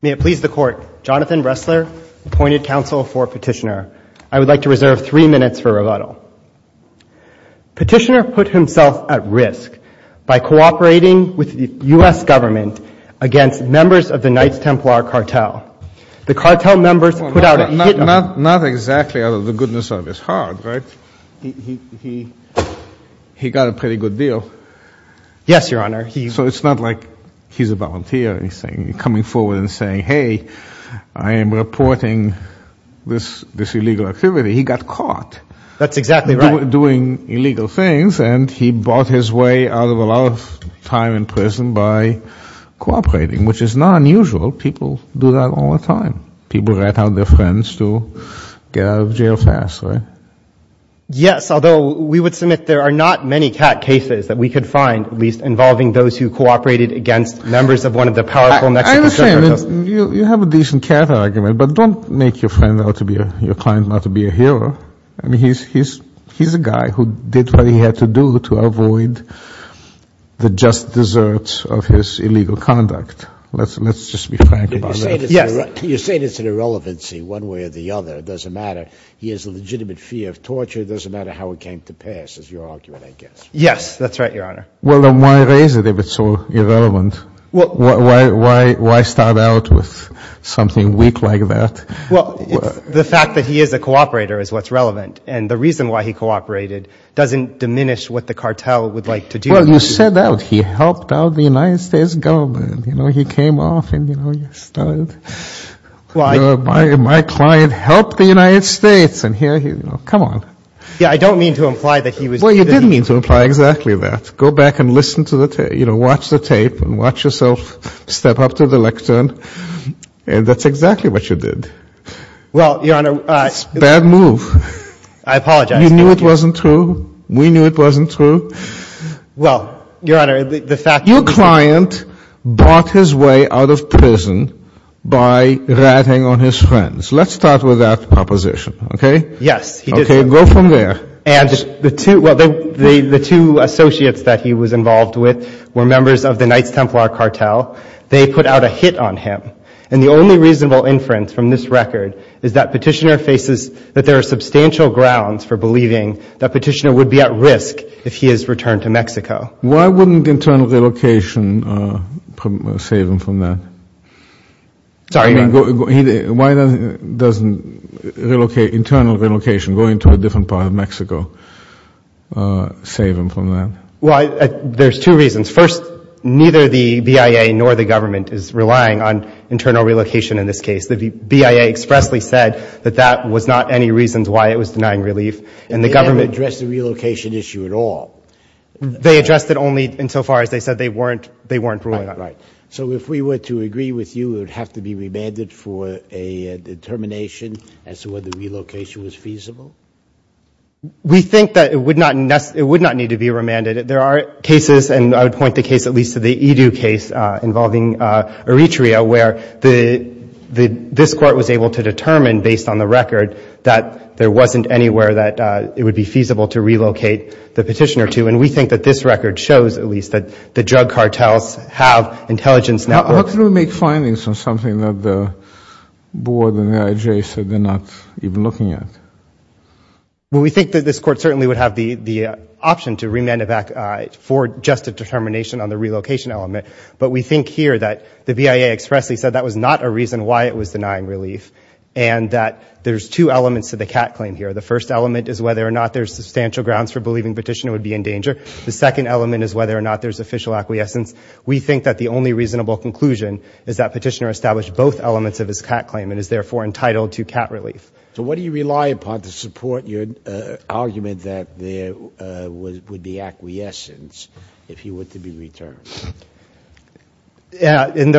May it please the Court, Jonathan Ressler, appointed counsel for Petitioner. I would like to reserve three minutes for rebuttal. Petitioner put himself at risk by cooperating with the U.S. government against members of the Knights Templar cartel. The cartel members put out a hit on him. Not exactly out of the goodness of his heart, right? He got a pretty good deal. Yes, Your Honor. So it's not like he's a volunteer. He's coming forward and saying, hey, I am reporting this illegal activity. He got caught. That's exactly right. Doing illegal things, and he bought his way out of a lot of time in prison by cooperating, which is not unusual. People do that all the time. People let out their friends to get out of jail fast, right? Yes, although we would submit there are not many cat cases that we could find, at least involving those who cooperated against members of one of the powerful Mexican cartels. I understand. You have a decent cat argument, but don't make your friend out to be a hero. I mean, he's a guy who did what he had to do to avoid the just deserts of his illegal conduct. Let's just be frank about that. Yes. You're saying it's an irrelevancy one way or the other. It doesn't matter. He has a legitimate fear of torture. It doesn't matter how it came to pass, is your argument, I guess. Yes, that's right, Your Honor. Well, then why raise it if it's so irrelevant? Why start out with something weak like that? Well, the fact that he is a cooperator is what's relevant, and the reason why he cooperated doesn't diminish what the cartel would like to do. Well, you said that he helped out the United States government. You know, he came off and, you know, he started. My client helped the United States, and here, you know, come on. Yeah, I don't mean to imply that he was. Well, you did mean to imply exactly that. Go back and listen to the tape, you know, watch the tape and watch yourself step up to the lectern, and that's exactly what you did. Well, Your Honor. It's a bad move. I apologize. You knew it wasn't true. We knew it wasn't true. Well, Your Honor, the fact. Your client bought his way out of prison by ratting on his friends. Let's start with that proposition, okay? Yes, he did. Okay, go from there. And the two associates that he was involved with were members of the Knights Templar cartel. They put out a hit on him, and the only reasonable inference from this record is that Petitioner faces that there are substantial grounds for believing that Petitioner would be at risk if he is returned to Mexico. Why wouldn't internal relocation save him from that? Sorry, Your Honor. Why doesn't internal relocation, going to a different part of Mexico, save him from that? Well, there's two reasons. First, neither the BIA nor the government is relying on internal relocation in this case. The BIA expressly said that that was not any reason why it was denying relief, and the government. They didn't address the relocation issue at all. They addressed it only insofar as they said they weren't ruling on it. Right. So if we were to agree with you, it would have to be remanded for a determination as to whether relocation was feasible? We think that it would not need to be remanded. There are cases, and I would point the case at least to the Edu case involving Eritrea, where this Court was able to determine, based on the record, that there wasn't anywhere that it would be feasible to relocate the petitioner to, and we think that this record shows, at least, that the drug cartels have intelligence now. How can we make findings on something that the board and the IJ said they're not even looking at? Well, we think that this Court certainly would have the option to remand it back for just a determination on the relocation element, but we think here that the BIA expressly said that was not a reason why it was denying relief and that there's two elements to the Catt claim here. The first element is whether or not there's substantial grounds for believing the petitioner would be in danger. The second element is whether or not there's official acquiescence. We think that the only reasonable conclusion is that petitioner established both elements of his Catt claim and is therefore entitled to Catt relief. So what do you rely upon to support your argument that there would be acquiescence if he were to be returned? Yeah, and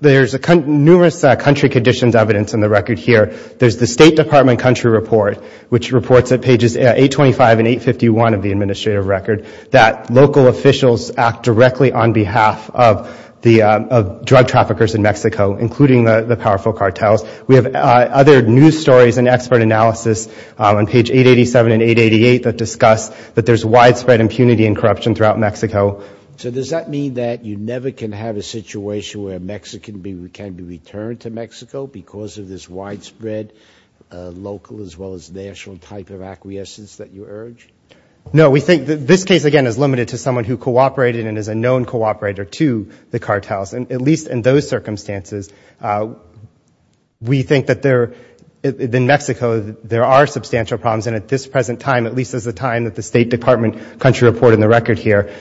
there's numerous country conditions evidence in the record here. There's the State Department country report, which reports at pages 825 and 851 of the administrative record, that local officials act directly on behalf of drug traffickers in Mexico, including the powerful cartels. We have other news stories and expert analysis on page 887 and 888 that discuss that there's widespread impunity and corruption throughout Mexico. So does that mean that you never can have a situation where a Mexican can be returned to Mexico because of this widespread local as well as national type of acquiescence that you urge? No. We think that this case, again, is limited to someone who cooperated and is a known cooperator to the cartels. And at least in those circumstances, we think that there, in Mexico, there are substantial problems. And at this present time, at least as the time that the State Department country report in the record here,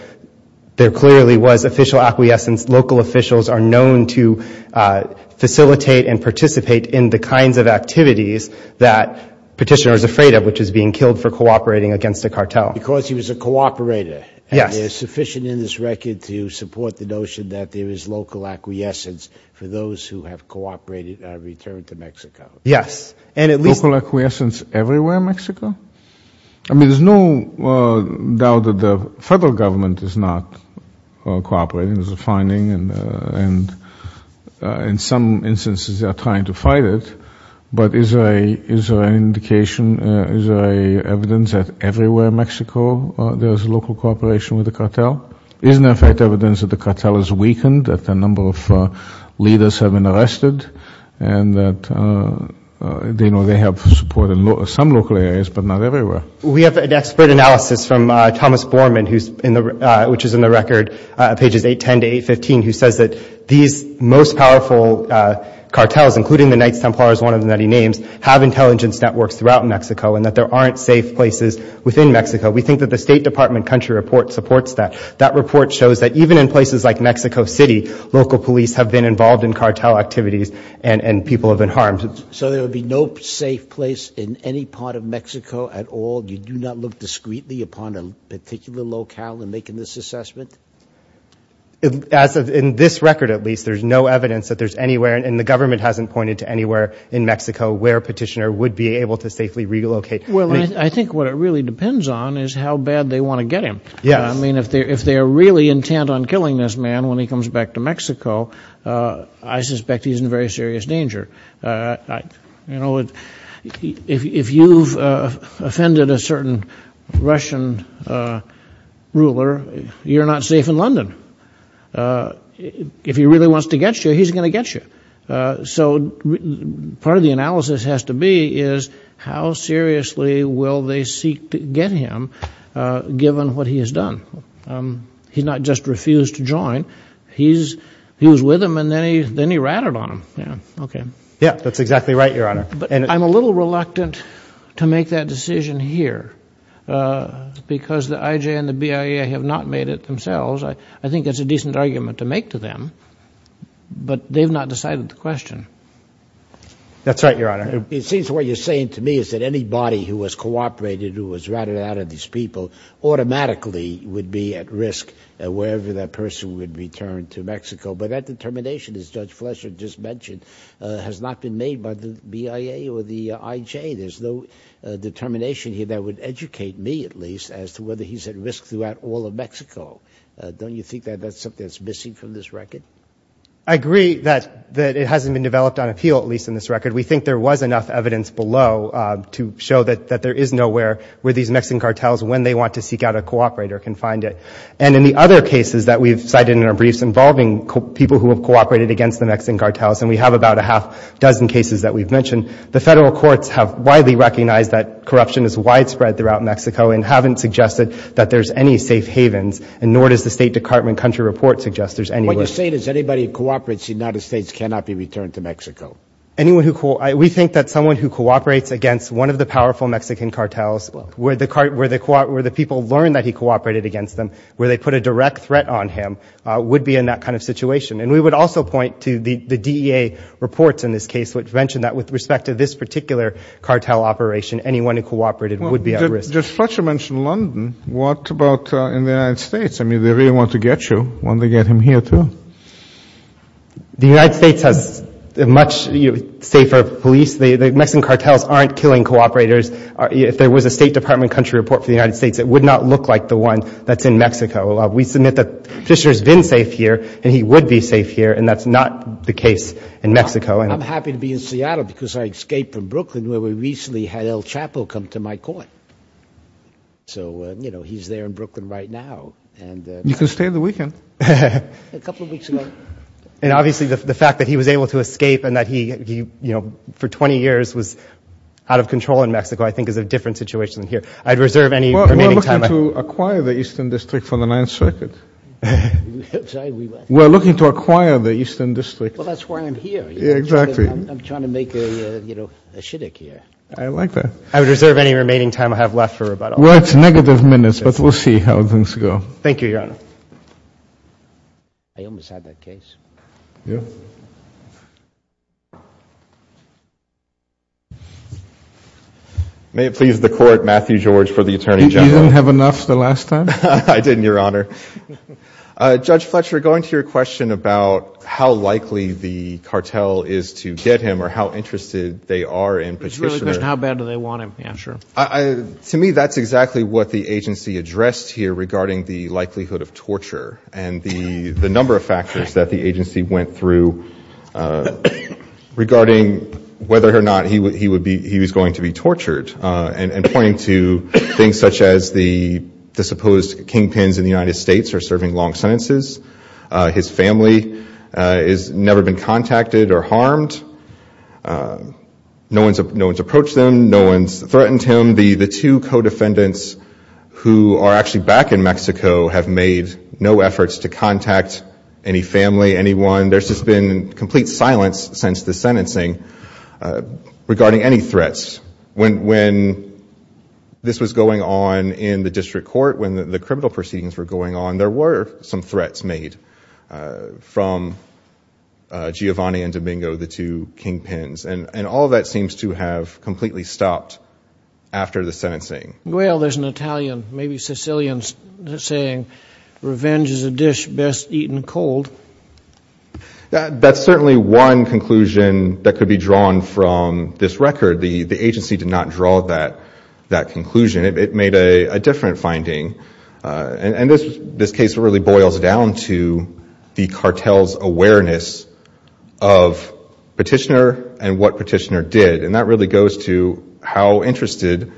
there clearly was official acquiescence. Local officials are known to facilitate and participate in the kinds of activities that Petitioner is afraid of, which is being killed for cooperating against a cartel. Because he was a cooperator. Yes. And there's sufficient in this record to support the notion that there is local acquiescence for those who have cooperated and returned to Mexico. Yes. Local acquiescence everywhere in Mexico? I mean, there's no doubt that the federal government is not cooperating. There's a finding and in some instances they are trying to fight it. But is there an indication, is there evidence that everywhere in Mexico there is local cooperation with the cartel? Isn't there, in fact, evidence that the cartel is weakened, that a number of leaders have been arrested, and that they have support in some local areas but not everywhere? We have an expert analysis from Thomas Borman, which is in the record, pages 810 to 815, who says that these most powerful cartels, including the Knights Templar is one of the many names, have intelligence networks throughout Mexico and that there aren't safe places within Mexico. We think that the State Department country report supports that. That report shows that even in places like Mexico City, local police have been involved in cartel activities and people have been harmed. So there would be no safe place in any part of Mexico at all? You do not look discreetly upon a particular locale in making this assessment? In this record, at least, there's no evidence that there's anywhere, and the government hasn't pointed to anywhere in Mexico where a petitioner would be able to safely relocate. Well, I think what it really depends on is how bad they want to get him. Yeah. I mean, if they're really intent on killing this man when he comes back to Mexico, I suspect he's in very serious danger. You know, if you've offended a certain Russian ruler, you're not safe in London. If he really wants to get you, he's going to get you. So part of the analysis has to be is how seriously will they seek to get him, given what he has done? He's not just refused to join. He was with him, and then he ratted on him. Yeah. Okay. Yeah, that's exactly right, Your Honor. But I'm a little reluctant to make that decision here because the IJ and the BIA have not made it themselves. I think that's a decent argument to make to them, but they've not decided the question. That's right, Your Honor. It seems what you're saying to me is that anybody who has cooperated, who was ratted out of these people automatically would be at risk wherever that person would return to Mexico. But that determination, as Judge Fletcher just mentioned, has not been made by the BIA or the IJ. There's no determination here that would educate me, at least, as to whether he's at risk throughout all of Mexico. Don't you think that that's something that's missing from this record? I agree that it hasn't been developed on appeal, at least in this record. We think there was enough evidence below to show that there is nowhere where these Mexican cartels, when they want to seek out a cooperator, can find it. And in the other cases that we've cited in our briefs involving people who have cooperated against the Mexican cartels, and we have about a half-dozen cases that we've mentioned, the federal courts have widely recognized that corruption is widespread throughout Mexico and haven't suggested that there's any safe havens, and nor does the State Department country report suggest there's anywhere. What you're saying is anybody who cooperates in the United States cannot be returned to Mexico. We think that someone who cooperates against one of the powerful Mexican cartels, where the people learn that he cooperated against them, where they put a direct threat on him, would be in that kind of situation. And we would also point to the DEA reports in this case, which mention that with respect to this particular cartel operation, anyone who cooperated would be at risk. Well, Judge Fletcher mentioned London. What about in the United States? I mean, they really want to get you, want to get him here, too. The United States has a much safer police. The Mexican cartels aren't killing cooperators. If there was a State Department country report for the United States, it would not look like the one that's in Mexico. We submit that Fisher's been safe here, and he would be safe here, and that's not the case in Mexico. I'm happy to be in Seattle because I escaped from Brooklyn, where we recently had El Chapo come to my court. So, you know, he's there in Brooklyn right now. You can stay the weekend. A couple of weeks ago. And obviously the fact that he was able to escape and that he, you know, for 20 years was out of control in Mexico, I think is a different situation than here. I'd reserve any remaining time. We're looking to acquire the Eastern District for the Ninth Circuit. We're looking to acquire the Eastern District. Well, that's why I'm here. Yeah, exactly. I'm trying to make a, you know, a shtick here. I like that. I would reserve any remaining time I have left for rebuttal. Well, it's negative minutes, but we'll see how things go. Thank you, Your Honor. I almost had that case. Yeah. May it please the Court, Matthew George for the Attorney General. You didn't have enough the last time? I didn't, Your Honor. Judge Fletcher, going to your question about how likely the cartel is to get him or how interested they are in Petitioner. It's really a question of how bad do they want him. Yeah, sure. To me, that's exactly what the agency addressed here regarding the likelihood of torture and the number of factors that the agency went through regarding whether or not he was going to be tortured and pointing to things such as the supposed kingpins in the United States are serving long sentences. His family has never been contacted or harmed. No one's approached them. No one's threatened him. The two co-defendants who are actually back in Mexico have made no efforts to contact any family, anyone. There's just been complete silence since the sentencing regarding any threats. When this was going on in the district court, when the criminal proceedings were going on, there were some threats made from Giovanni and Domingo, the two kingpins, and all of that seems to have completely stopped after the sentencing. Well, there's an Italian, maybe Sicilian saying, revenge is a dish best eaten cold. That's certainly one conclusion that could be drawn from this record. The agency did not draw that conclusion. It made a different finding. And this case really boils down to the cartel's awareness of Petitioner and what Petitioner did, and that really goes to how interested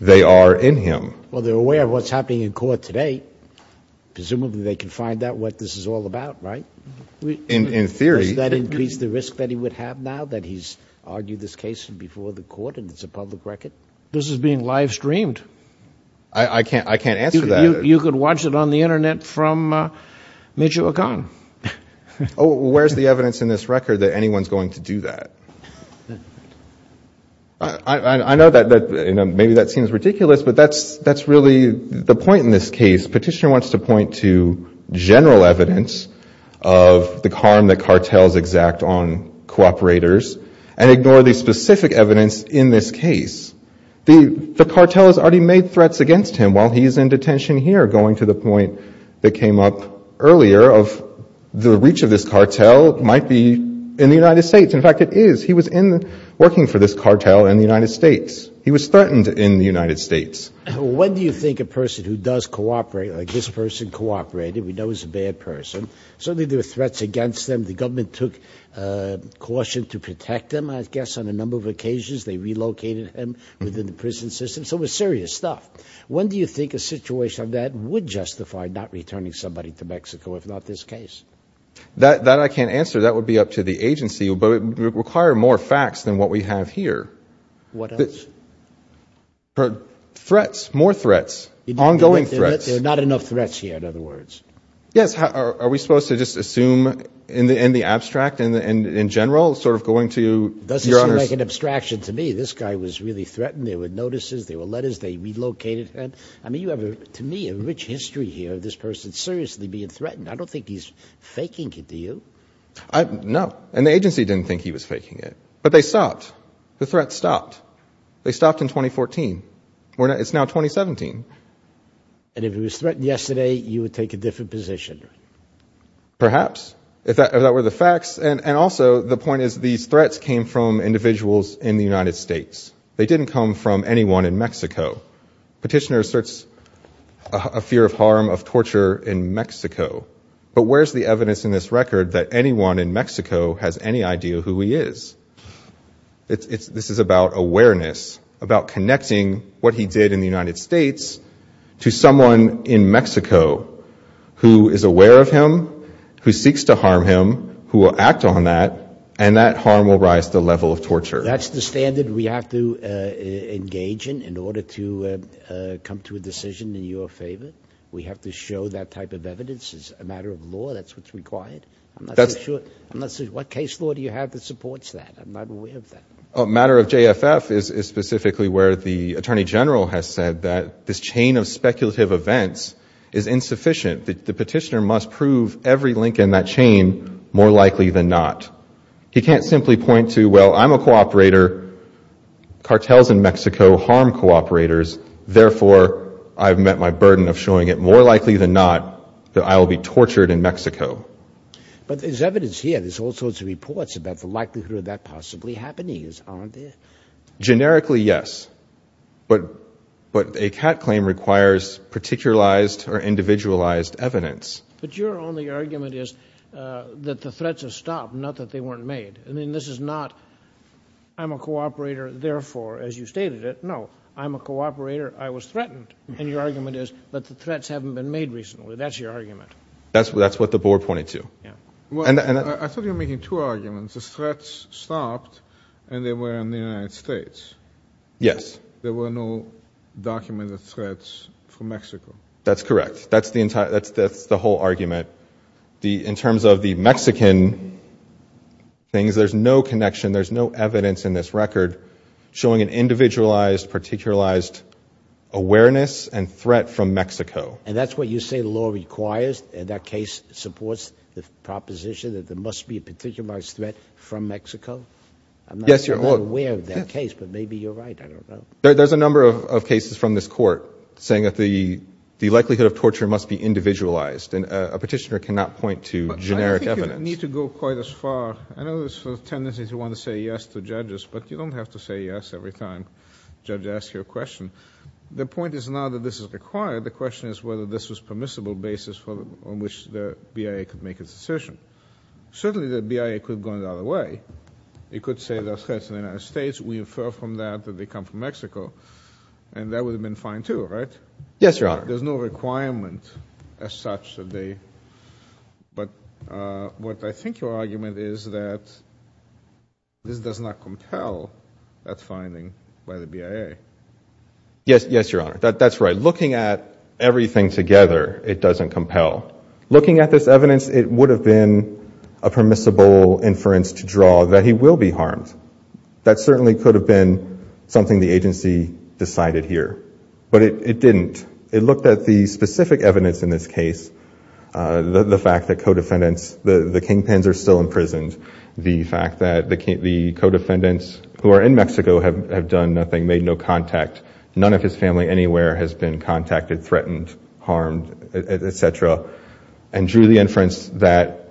they are in him. Well, they're aware of what's happening in court today. Presumably they can find out what this is all about, right? In theory. Does that increase the risk that he would have now that he's argued this case before the court and it's a public record? This is being live streamed. I can't answer that. You could watch it on the Internet from Michoacan. Oh, where's the evidence in this record that anyone's going to do that? I know that maybe that seems ridiculous, but that's really the point in this case. Petitioner wants to point to general evidence of the harm that cartels exact on cooperators and ignore the specific evidence in this case. The cartel has already made threats against him while he's in detention here, going to the point that came up earlier of the reach of this cartel might be in the United States. In fact, it is. He was working for this cartel in the United States. He was threatened in the United States. When do you think a person who does cooperate, like this person cooperated, we know he's a bad person. Certainly there were threats against him. The government took caution to protect him, I guess, on a number of occasions. They relocated him within the prison system. So it was serious stuff. When do you think a situation of that would justify not returning somebody to Mexico, if not this case? That I can't answer. That would be up to the agency. But it would require more facts than what we have here. What else? Threats, more threats, ongoing threats. There are not enough threats here, in other words. Yes. Are we supposed to just assume in the abstract, in general, sort of going to your honors? It doesn't seem like an abstraction to me. This guy was really threatened. There were notices. There were letters. They relocated him. I mean, you have, to me, a rich history here of this person seriously being threatened. I don't think he's faking it, do you? No. And the agency didn't think he was faking it. But they stopped. The threats stopped. They stopped in 2014. It's now 2017. And if he was threatened yesterday, you would take a different position? Perhaps, if that were the facts. And also, the point is these threats came from individuals in the United States. They didn't come from anyone in Mexico. Petitioner asserts a fear of harm, of torture in Mexico. But where's the evidence in this record that anyone in Mexico has any idea who he is? This is about awareness, about connecting what he did in the United States to someone in Mexico who is aware of him, who seeks to harm him, who will act on that, and that harm will rise to the level of torture. That's the standard we have to engage in in order to come to a decision in your favor? We have to show that type of evidence as a matter of law? That's what's required? I'm not so sure. What case law do you have that supports that? I'm not aware of that. A matter of JFF is specifically where the Attorney General has said that this chain of speculative events is insufficient. The petitioner must prove every link in that chain more likely than not. He can't simply point to, well, I'm a cooperator, cartels in Mexico harm cooperators, therefore I've met my burden of showing it more likely than not that I will be tortured in Mexico. But there's evidence here. There's all sorts of reports about the likelihood of that possibly happening, aren't there? Generically, yes. But a CAT claim requires particularized or individualized evidence. But your only argument is that the threats have stopped, not that they weren't made. I mean, this is not I'm a cooperator, therefore, as you stated it. No, I'm a cooperator. I was threatened. And your argument is that the threats haven't been made recently. That's your argument. That's what the board pointed to. I thought you were making two arguments. The threats stopped and they were in the United States. Yes. There were no documented threats from Mexico. That's correct. That's the whole argument. In terms of the Mexican things, there's no connection, there's no evidence in this record showing an individualized, particularized awareness and threat from Mexico. And that's what you say the law requires? And that case supports the proposition that there must be a particularized threat from Mexico? Yes, Your Honor. I'm not aware of that case, but maybe you're right. There's a number of cases from this court saying that the likelihood of torture must be individualized, and a petitioner cannot point to generic evidence. I think you need to go quite as far. I know there's a tendency to want to say yes to judges, but you don't have to say yes every time a judge asks you a question. The point is not that this is required. The question is whether this was a permissible basis on which the BIA could make a decision. Certainly the BIA could have gone the other way. It could say there are threats in the United States. We infer from that that they come from Mexico, and that would have been fine too, right? Yes, Your Honor. There's no requirement as such that they, but what I think your argument is that this does not compel that finding by the BIA. Yes, Your Honor. That's right. Looking at everything together, it doesn't compel. Looking at this evidence, it would have been a permissible inference to draw that he will be harmed. That certainly could have been something the agency decided here, but it didn't. It looked at the specific evidence in this case, the fact that co-defendants, the kingpins are still imprisoned. The fact that the co-defendants who are in Mexico have done nothing, made no contact. None of his family anywhere has been contacted, threatened, harmed, et cetera, and drew the inference that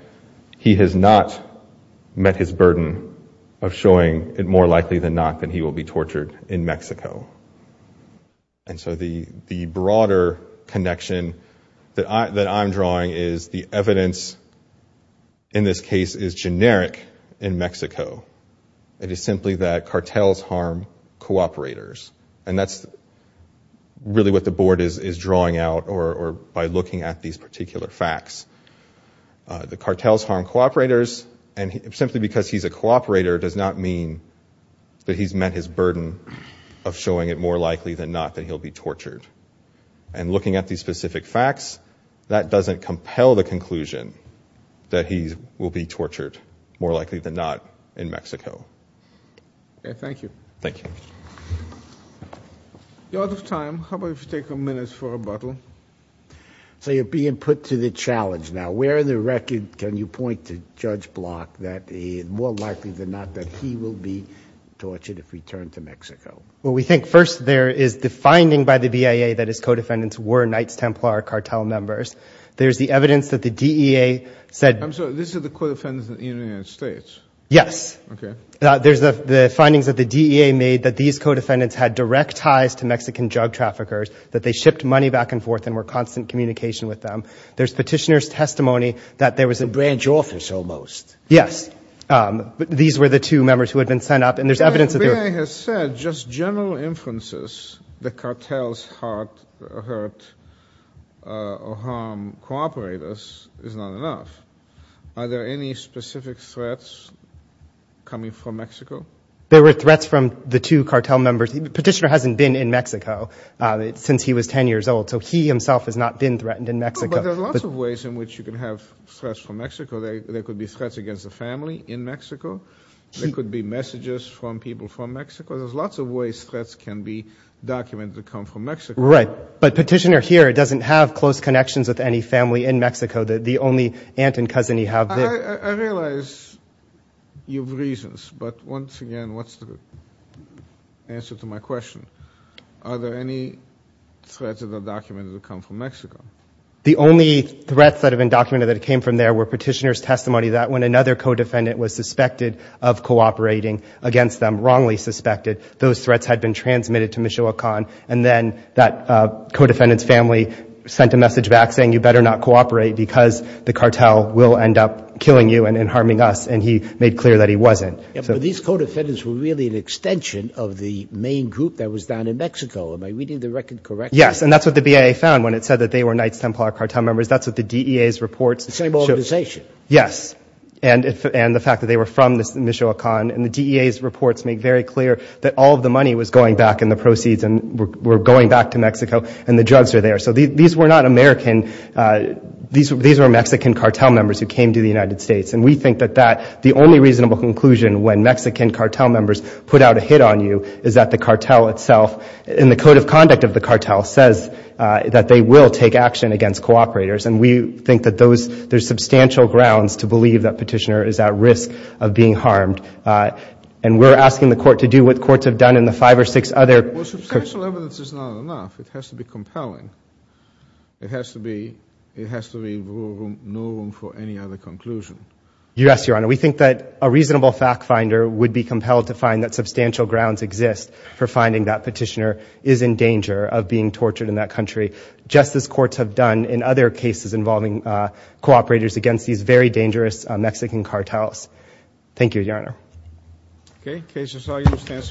he has not met his burden of showing it more likely than not that he will be tortured in Mexico. And so the broader connection that I'm drawing is the evidence in this case is generic in Mexico. It is simply that cartels harm cooperators, and that's really what the board is drawing out by looking at these particular facts. The cartels harm cooperators, and simply because he's a cooperator does not mean that he's met his burden of showing it more likely than not that he'll be tortured. And looking at these specific facts, that doesn't compel the conclusion that he will be tortured more likely than not in Mexico. Thank you. Thank you. You're out of time. How about if you take a minute for rebuttal? So you're being put to the challenge now. Where in the record can you point to Judge Block that more likely than not that he will be tortured if returned to Mexico? Well, we think first there is the finding by the BIA that his co-defendants were Knights Templar cartel members. There's the evidence that the DEA said— I'm sorry. This is the co-defendants in the United States? Yes. Okay. There's the findings that the DEA made that these co-defendants had direct ties to Mexican drug traffickers, that they shipped money back and forth and were in constant communication with them. There's petitioner's testimony that there was a— A branch office, almost. Yes. These were the two members who had been sent up, and there's evidence that they were— The BIA has said just general inferences that cartels hurt or harm cooperators is not enough. Are there any specific threats coming from Mexico? There were threats from the two cartel members. Petitioner hasn't been in Mexico since he was 10 years old, so he himself has not been threatened in Mexico. But there's lots of ways in which you can have threats from Mexico. There could be threats against the family in Mexico. There could be messages from people from Mexico. There's lots of ways threats can be documented to come from Mexico. Right. But petitioner here doesn't have close connections with any family in Mexico. The only aunt and cousin he has— I realize you have reasons, but once again, what's the answer to my question? Are there any threats that are documented to come from Mexico? The only threats that have been documented that came from there were petitioner's testimony that when another co-defendant was suspected of cooperating against them, wrongly suspected, those threats had been transmitted to Michoacan, and then that co-defendant's family sent a message back saying, you better not cooperate because the cartel will end up killing you and harming us, and he made clear that he wasn't. But these co-defendants were really an extension of the main group that was down in Mexico. Am I reading the record correctly? Yes, and that's what the BIA found when it said that they were Knights Templar cartel members. That's what the DEA's reports— The same organization? Yes, and the fact that they were from Michoacan. And the DEA's reports make very clear that all of the money was going back in the proceeds and were going back to Mexico, and the drugs were there. So these were not American—these were Mexican cartel members who came to the United States, and we think that the only reasonable conclusion when Mexican cartel members put out a hit on you is that the cartel itself, in the code of conduct of the cartel, says that they will take action against cooperators, and we think that there's substantial grounds to believe that petitioner is at risk of being harmed. And we're asking the court to do what courts have done in the five or six other— Well, substantial evidence is not enough. It has to be compelling. It has to be—it has to be no room for any other conclusion. Yes, Your Honor. We think that a reasonable fact finder would be compelled to find that substantial grounds exist for finding that petitioner is in danger of being tortured in that country, just as courts have done in other cases involving cooperators against these very dangerous Mexican cartels. Thank you, Your Honor. Okay. The case is now in the stands for a minute.